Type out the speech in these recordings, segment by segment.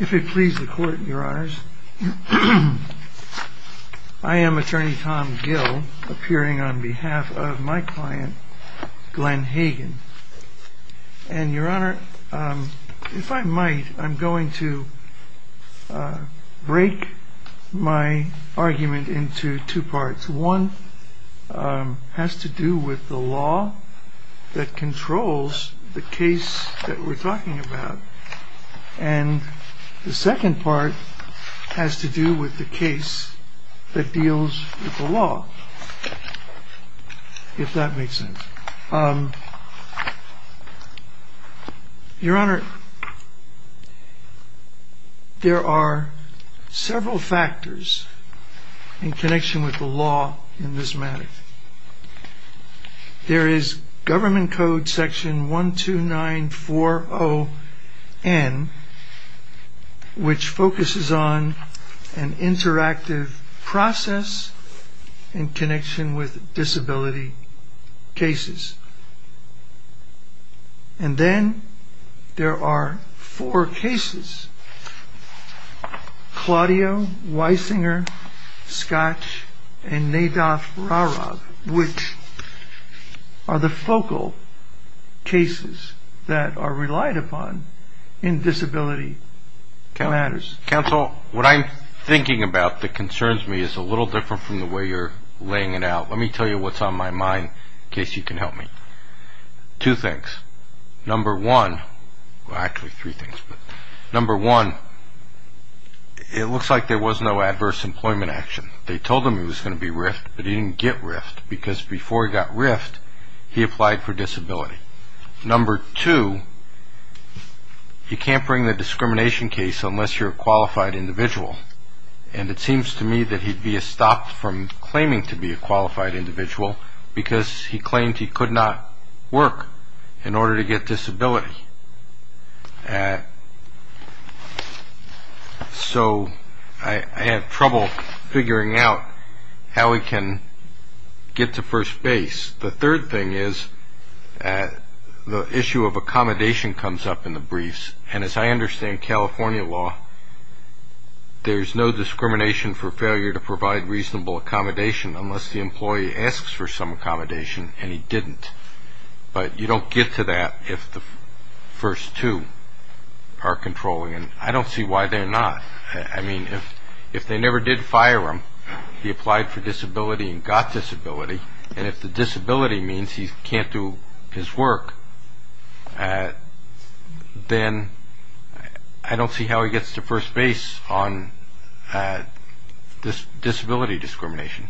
If it pleases the court, your honors, I am attorney Tom Gill, appearing on behalf of my client, Glenn Hagen. And your honor, if I might, I'm going to break my argument into two parts. One has to do with the law that controls the case that we're talking about. And the second part has to do with the case that deals with the law, if that makes sense. Your honor, there are several factors in connection with the law in this matter. There is government code section 12940N, which focuses on an interactive process in connection with disability cases. And then there are four cases, Claudio, Weisinger, Scotch, and Nedaf-Rarab, which are the focal cases that are relied upon in disability matters. Counsel, what I'm thinking about that concerns me is a little different from the way you're laying it out. Let me tell you what's on my mind, in case you can help me. Two things. Number one, well, actually three things, but number one, it looks like there was no adverse employment action. They told him he was going to be RIFT, but he didn't get RIFT, because before he got RIFT, he applied for disability. Number two, you can't bring the discrimination case unless you're a qualified individual. And it seems to me that he'd be stopped from claiming to be a qualified individual, because he claimed he could not work in order to get disability. So I have trouble figuring out how he can get to first base. The third thing is the issue of accommodation comes up in the briefs. And as I understand California law, there's no discrimination for failure to provide reasonable accommodation unless the employee asks for some accommodation, and he didn't. But you don't get to that if the first two are controlling, and I don't see why they're not. I mean, if they never did fire him, he applied for disability and got disability. And if the disability means he can't do his work, then I don't see how he gets to first base on disability discrimination.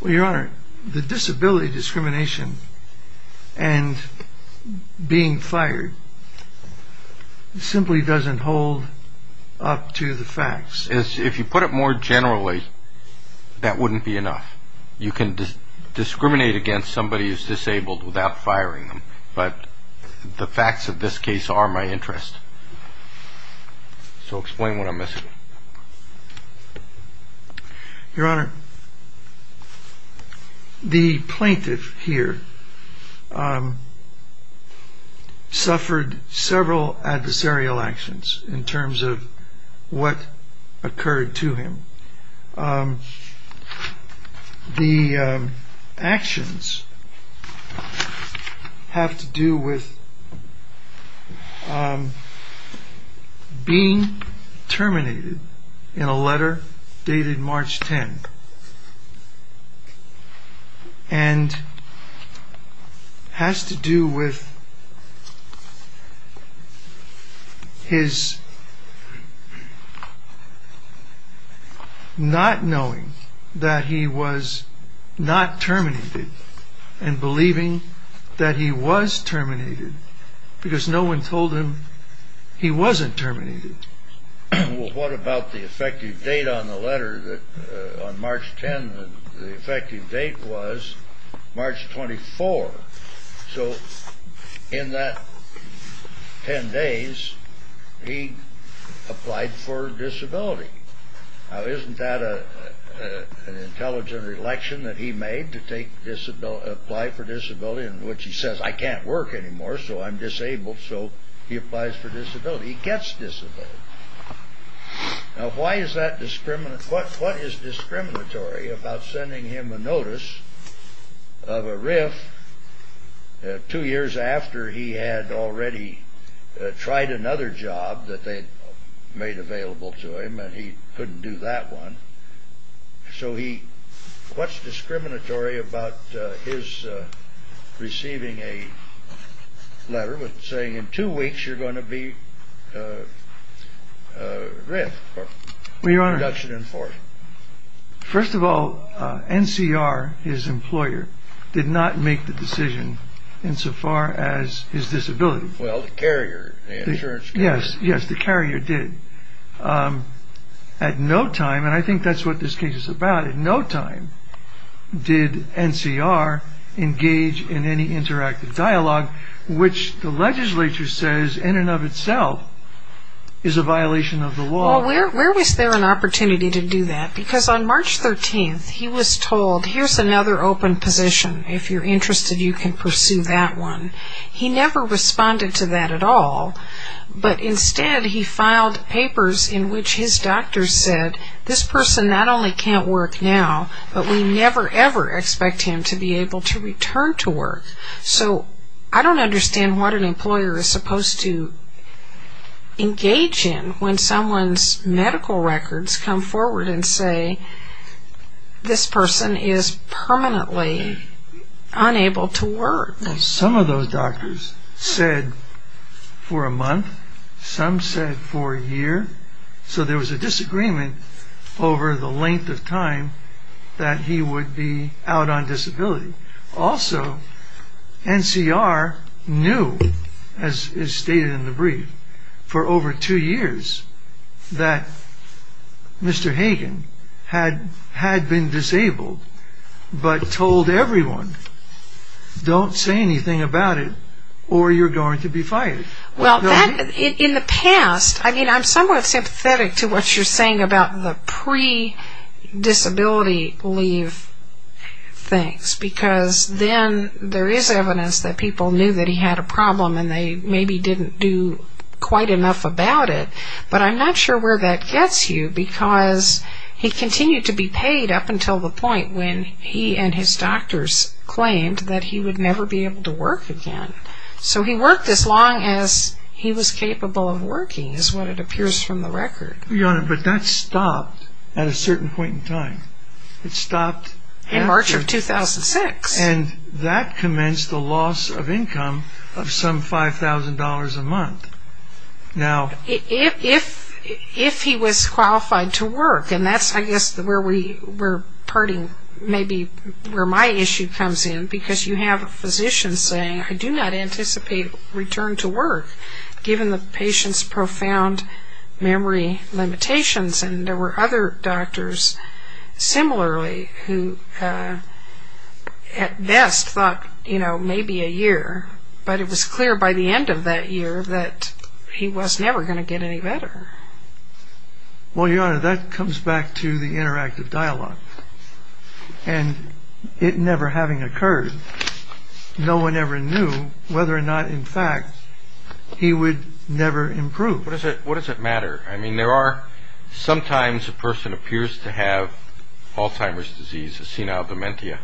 Well, Your Honor, the disability discrimination and being fired simply doesn't hold up to the facts. If you put it more generally, that wouldn't be enough. You can discriminate against somebody who's disabled without firing them. But the facts of this case are my interest. So explain what I'm missing. Your Honor, the plaintiff here suffered several adversarial actions in terms of what occurred to him. The actions have to do with being terminated in a letter dated March 10. And has to do with his not knowing that he was not terminated and believing that he was terminated because no one told him he wasn't terminated. Well, what about the effective date on the letter on March 10? The effective date was March 24. So in that 10 days, he applied for disability. Now, isn't that an intelligent election that he made to apply for disability? In which he says, I can't work anymore, so I'm disabled. So he applies for disability. He gets disabled. Now, why is that discriminatory? What is discriminatory about sending him a notice of a riff two years after he had already tried another job that they made available to him and he couldn't do that one? So what's discriminatory about his receiving a letter saying in two weeks you're going to be riffed? Well, Your Honor, first of all, NCR, his employer, did not make the decision insofar as his disability. Well, the carrier, the insurance carrier. Yes, yes, the carrier did. At no time, and I think that's what this case is about, at no time did NCR engage in any interactive dialogue, which the legislature says in and of itself is a violation of the law. Well, where was there an opportunity to do that? Because on March 13, he was told, here's another open position. If you're interested, you can pursue that one. He never responded to that at all, but instead he filed papers in which his doctor said this person not only can't work now, but we never, ever expect him to be able to return to work. So I don't understand what an employer is supposed to engage in when someone's medical records come forward and say this person is permanently unable to work. Well, some of those doctors said for a month, some said for a year, so there was a disagreement over the length of time that he would be out on disability. Also, NCR knew, as is stated in the brief, for over two years that Mr. Hagen had been disabled, but told everyone, don't say anything about it or you're going to be fired. Well, in the past, I mean, I'm somewhat sympathetic to what you're saying about the pre-disability leave things, because then there is evidence that people knew that he had a problem and they maybe didn't do quite enough about it. But I'm not sure where that gets you, because he continued to be paid up until the point when he and his doctors claimed that he would never be able to work again. So he worked as long as he was capable of working, is what it appears from the record. Your Honor, but that stopped at a certain point in time. It stopped in March of 2006. And that commenced the loss of income of some $5,000 a month. If he was qualified to work, and that's, I guess, where we're parting, maybe where my issue comes in, because you have a physician saying, I do not anticipate return to work, given the patient's profound memory limitations. And there were other doctors similarly who at best thought, you know, maybe a year. But it was clear by the end of that year that he was never going to get any better. Well, Your Honor, that comes back to the interactive dialogue. And it never having occurred, no one ever knew whether or not, in fact, he would never improve. What does it matter? I mean, there are sometimes a person appears to have Alzheimer's disease, a senile dementia,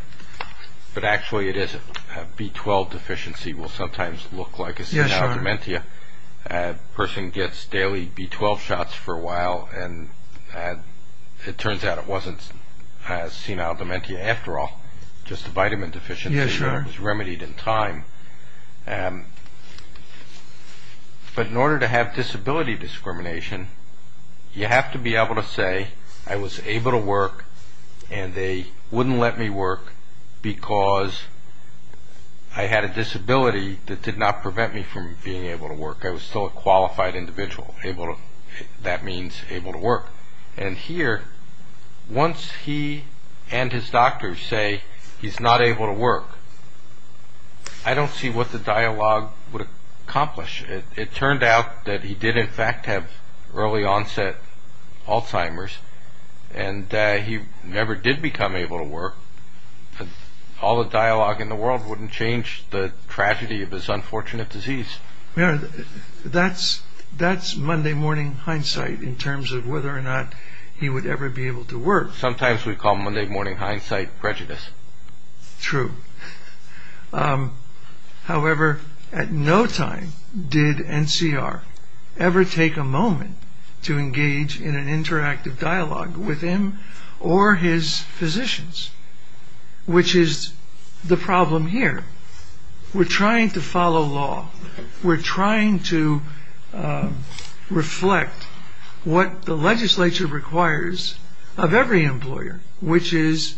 but actually it isn't. A B12 deficiency will sometimes look like a senile dementia. A person gets daily B12 shots for a while, and it turns out it wasn't a senile dementia after all, just a vitamin deficiency that was remedied in time. But in order to have disability discrimination, you have to be able to say, I was able to work, and they wouldn't let me work because I had a disability that did not prevent me from being able to work. I was still a qualified individual. And here, once he and his doctors say he's not able to work, I don't see what the dialogue would accomplish. It turned out that he did, in fact, have early onset Alzheimer's, and he never did become able to work. All the dialogue in the world wouldn't change the tragedy of his unfortunate disease. That's Monday morning hindsight in terms of whether or not he would ever be able to work. Sometimes we call Monday morning hindsight prejudice. True. However, at no time did NCR ever take a moment to engage in an interactive dialogue with him or his physicians, which is the problem here. We're trying to follow law. We're trying to reflect what the legislature requires of every employer, which is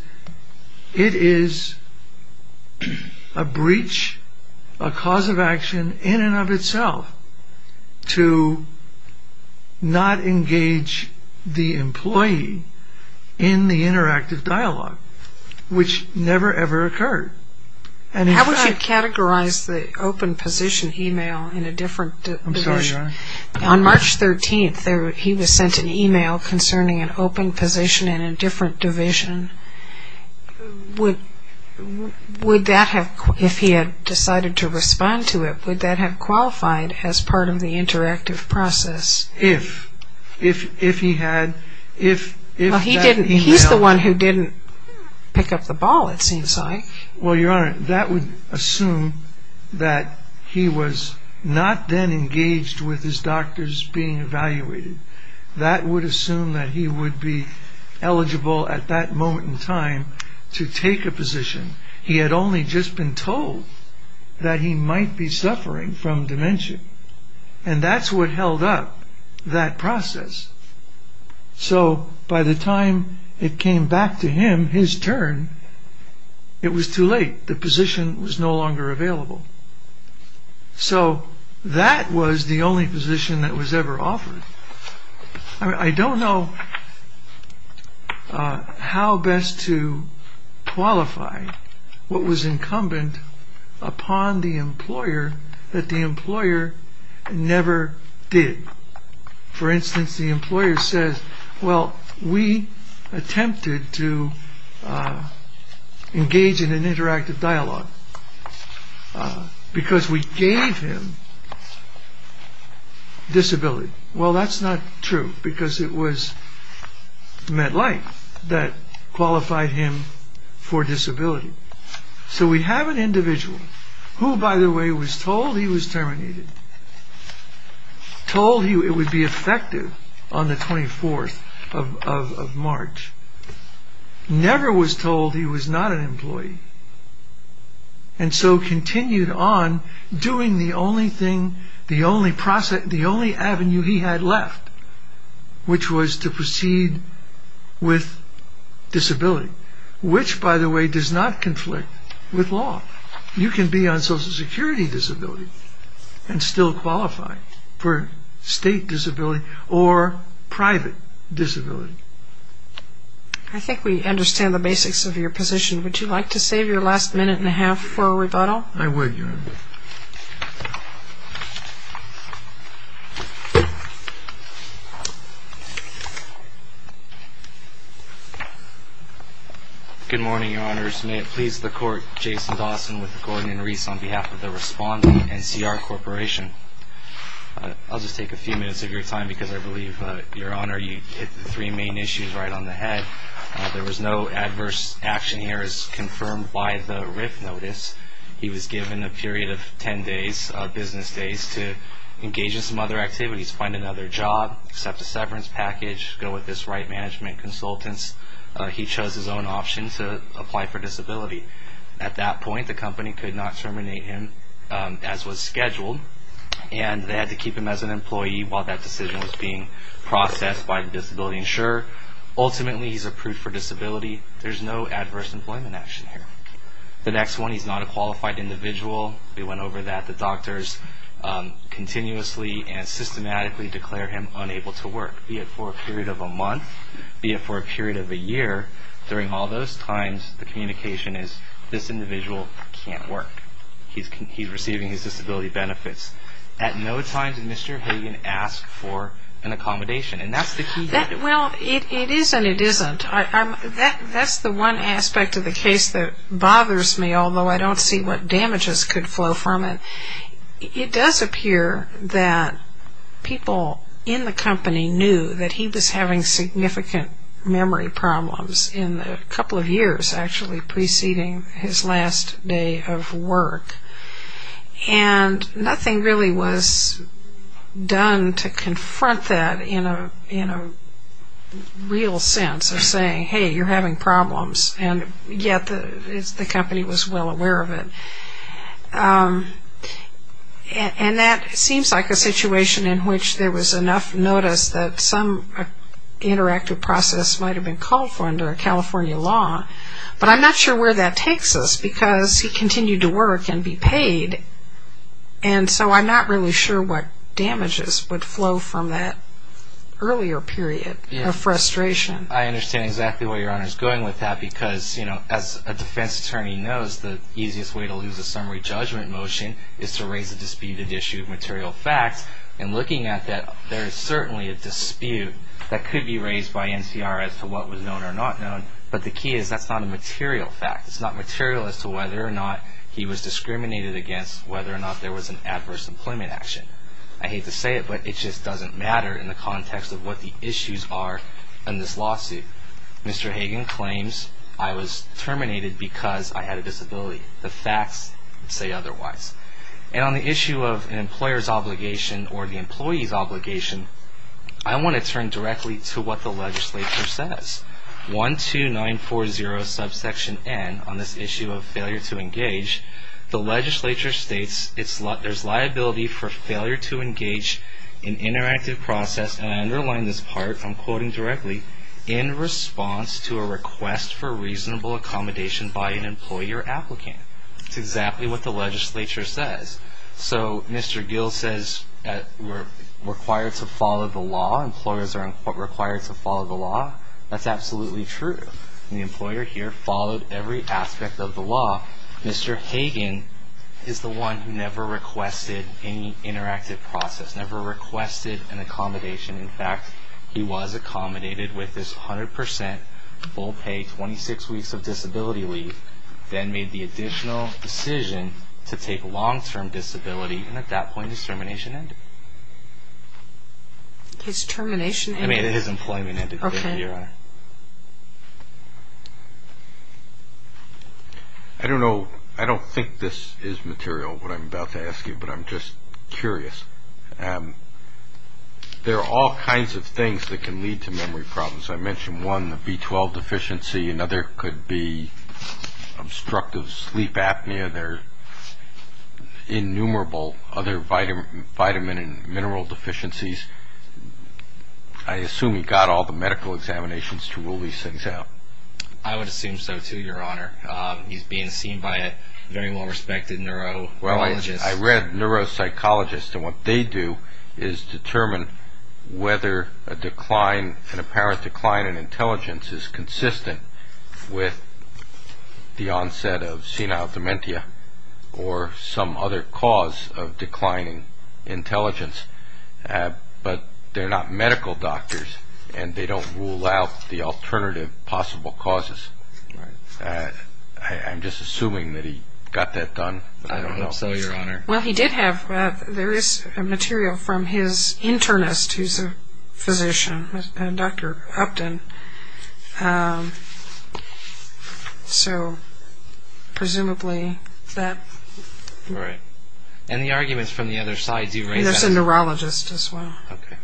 it is a breach, a cause of action in and of itself to not engage the employee in the interactive dialogue, which never, ever occurred. How would you categorize the open position email in a different division? On March 13th, he was sent an email concerning an open position in a different division. Would that have, if he had decided to respond to it, would that have qualified as part of the interactive process? If he had, if that email... Well, he's the one who didn't pick up the ball, it seems like. Well, Your Honor, that would assume that he was not then engaged with his doctors being evaluated. That would assume that he would be eligible at that moment in time to take a position. He had only just been told that he might be suffering from dementia. And that's what held up that process. So by the time it came back to him, his turn, it was too late. The position was no longer available. So that was the only position that was ever offered. I don't know how best to qualify what was incumbent upon the employer that the employer never did. For instance, the employer says, well, we attempted to engage in an interactive dialogue because we gave him disability. Well, that's not true because it was MetLife that qualified him for disability. So we have an individual who, by the way, was told he was terminated. Told he would be effective on the 24th of March. Never was told he was not an employee. And so continued on doing the only avenue he had left, which was to proceed with disability. Which, by the way, does not conflict with law. You can be on Social Security disability and still qualify for state disability or private disability. I think we understand the basics of your position. Would you like to save your last minute and a half for a rebuttal? I would, Your Honor. Good morning, Your Honors. May it please the Court, Jason Dawson with Gordon and Reese on behalf of the Respondent NCR Corporation. I'll just take a few minutes of your time because I believe, Your Honor, you hit the three main issues right on the head. There was no adverse action here as confirmed by the RIF notice. He was given a period of ten days, business days, to engage in some other activities, find another job, accept a severance package, go with his right management consultants. He chose his own option to apply for disability. At that point, the company could not terminate him as was scheduled, and they had to keep him as an employee while that decision was being processed by the disability insurer. Ultimately, he's approved for disability. There's no adverse employment action here. The next one, he's not a qualified individual. We went over that. The doctors continuously and systematically declare him unable to work, be it for a period of a month, be it for a period of a year. During all those times, the communication is this individual can't work. He's receiving his disability benefits. At no time did Mr. Hagan ask for an accommodation, and that's the key. Well, it is and it isn't. That's the one aspect of the case that bothers me, although I don't see what damages could flow from it. It does appear that people in the company knew that he was having significant memory problems in the couple of years actually preceding his last day of work, and nothing really was done to confront that in a real sense of saying, hey, you're having problems, and yet the company was well aware of it. And that seems like a situation in which there was enough notice that some interactive process might have been called for under a California law, but I'm not sure where that takes us because he continued to work and be paid, and so I'm not really sure what damages would flow from that earlier period of frustration. I understand exactly where Your Honor is going with that because, you know, as a defense attorney knows, the easiest way to lose a summary judgment motion is to raise a disputed issue of material facts, and looking at that, there is certainly a dispute that could be raised by NCR as to what was known or not known, but the key is that's not a material fact. It's not material as to whether or not he was discriminated against, whether or not there was an adverse employment action. I hate to say it, but it just doesn't matter in the context of what the issues are in this lawsuit. Mr. Hagan claims I was terminated because I had a disability. The facts say otherwise. And on the issue of an employer's obligation or the employee's obligation, I want to turn directly to what the legislature says. 12940 subsection N on this issue of failure to engage, the legislature states there's liability for failure to engage in interactive process, and I underline this part, I'm quoting directly, in response to a request for reasonable accommodation by an employee or applicant. That's exactly what the legislature says. So Mr. Gill says we're required to follow the law. Employers are required to follow the law. That's absolutely true. The employer here followed every aspect of the law. Mr. Hagan is the one who never requested any interactive process, never requested an accommodation. In fact, he was accommodated with this 100 percent full pay, 26 weeks of disability leave, then made the additional decision to take long-term disability, and at that point his termination ended. His termination ended? I mean his employment ended. Okay. I don't know, I don't think this is material, what I'm about to ask you, but I'm just curious. There are all kinds of things that can lead to memory problems. I mentioned one, the B12 deficiency. Another could be obstructive sleep apnea. There are innumerable other vitamin and mineral deficiencies. I assume he got all the medical examinations to rule these things out. I would assume so, too, Your Honor. He's being seen by a very well-respected neurologist. I read neuropsychologists, and what they do is determine whether a decline, an apparent decline in intelligence is consistent with the onset of senile dementia or some other cause of declining intelligence. But they're not medical doctors, and they don't rule out the alternative possible causes. I'm just assuming that he got that done, but I don't know. Also, Your Honor. Well, he did have, there is material from his internist who's a physician, Dr. Upton. So presumably that. Right. And the arguments from the other side do raise that. There's a neurologist as well. Okay.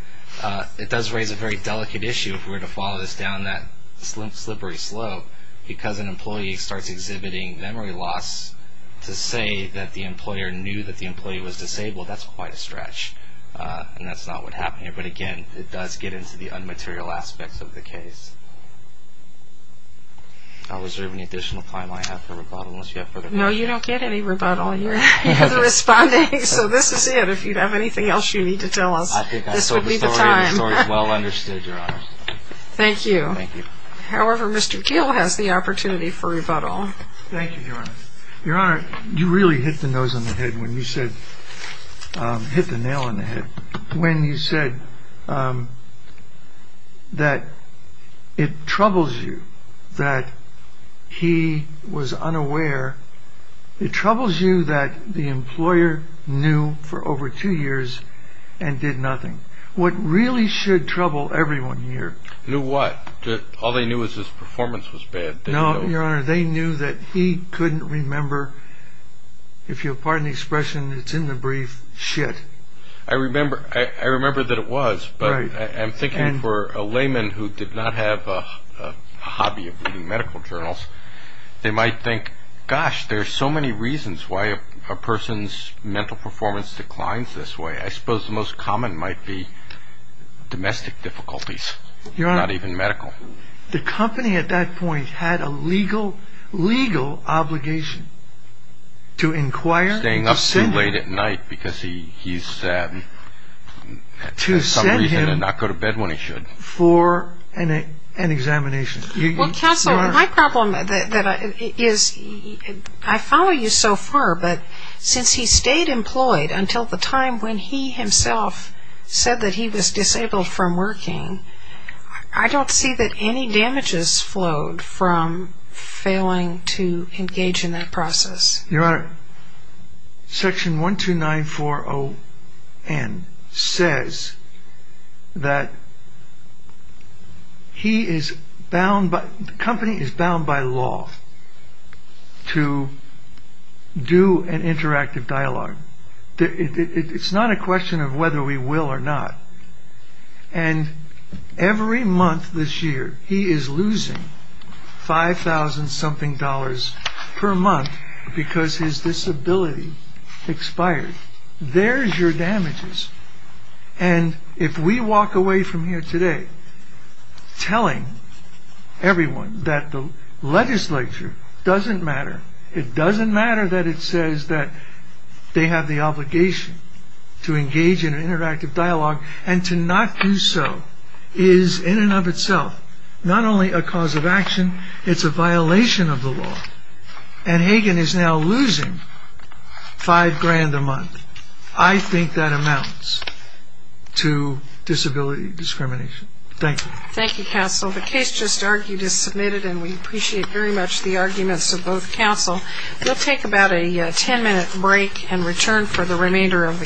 It does raise a very delicate issue if we were to follow this down that slippery slope because an employee starts exhibiting memory loss to say that the employer knew that the employee was disabled, that's quite a stretch. And that's not what happened here. But again, it does get into the un-material aspects of the case. Was there any additional time I have for rebuttal? No, you don't get any rebuttal. You're the respondent, so this is it. If you have anything else you need to tell us, this would be the time. I think I saw the story, and the story is well understood, Your Honor. Thank you. Thank you. However, Mr. Keel has the opportunity for rebuttal. Thank you, Your Honor. Your Honor, you really hit the nose on the head when you said, hit the nail on the head, when you said that it troubles you that he was unaware. It troubles you that the employer knew for over two years and did nothing. What really should trouble everyone here. Knew what? All they knew was his performance was bad. No, Your Honor. They knew that he couldn't remember, if you'll pardon the expression, it's in the brief, shit. I remember that it was, but I'm thinking for a layman who did not have a hobby of reading medical journals, they might think, gosh, there are so many reasons why a person's mental performance declines this way. I suppose the most common might be domestic difficulties, not even medical. Your Honor, the company at that point had a legal obligation to inquire and to send him. Staying up too late at night because he's, for some reason, did not go to bed when he should. To send him for an examination. Well, counsel, my problem is, I follow you so far, but since he stayed employed until the time when he himself said that he was disabled from working, I don't see that any damages flowed from failing to engage in that process. Your Honor, Section 12940N says that the company is bound by law to do an interactive dialogue. It's not a question of whether we will or not. And every month this year, he is losing 5,000 something dollars per month because his disability expired. There's your damages. And if we walk away from here today telling everyone that the legislature doesn't matter, it doesn't matter that it says that they have the obligation to engage in an interactive dialogue, and to not do so is, in and of itself, not only a cause of action, it's a violation of the law. And Hagan is now losing 5 grand a month. I think that amounts to disability discrimination. Thank you. Thank you, counsel. The case just argued is submitted, and we appreciate very much the arguments of both counsel. We'll take about a ten-minute break and return for the remainder of the calendar.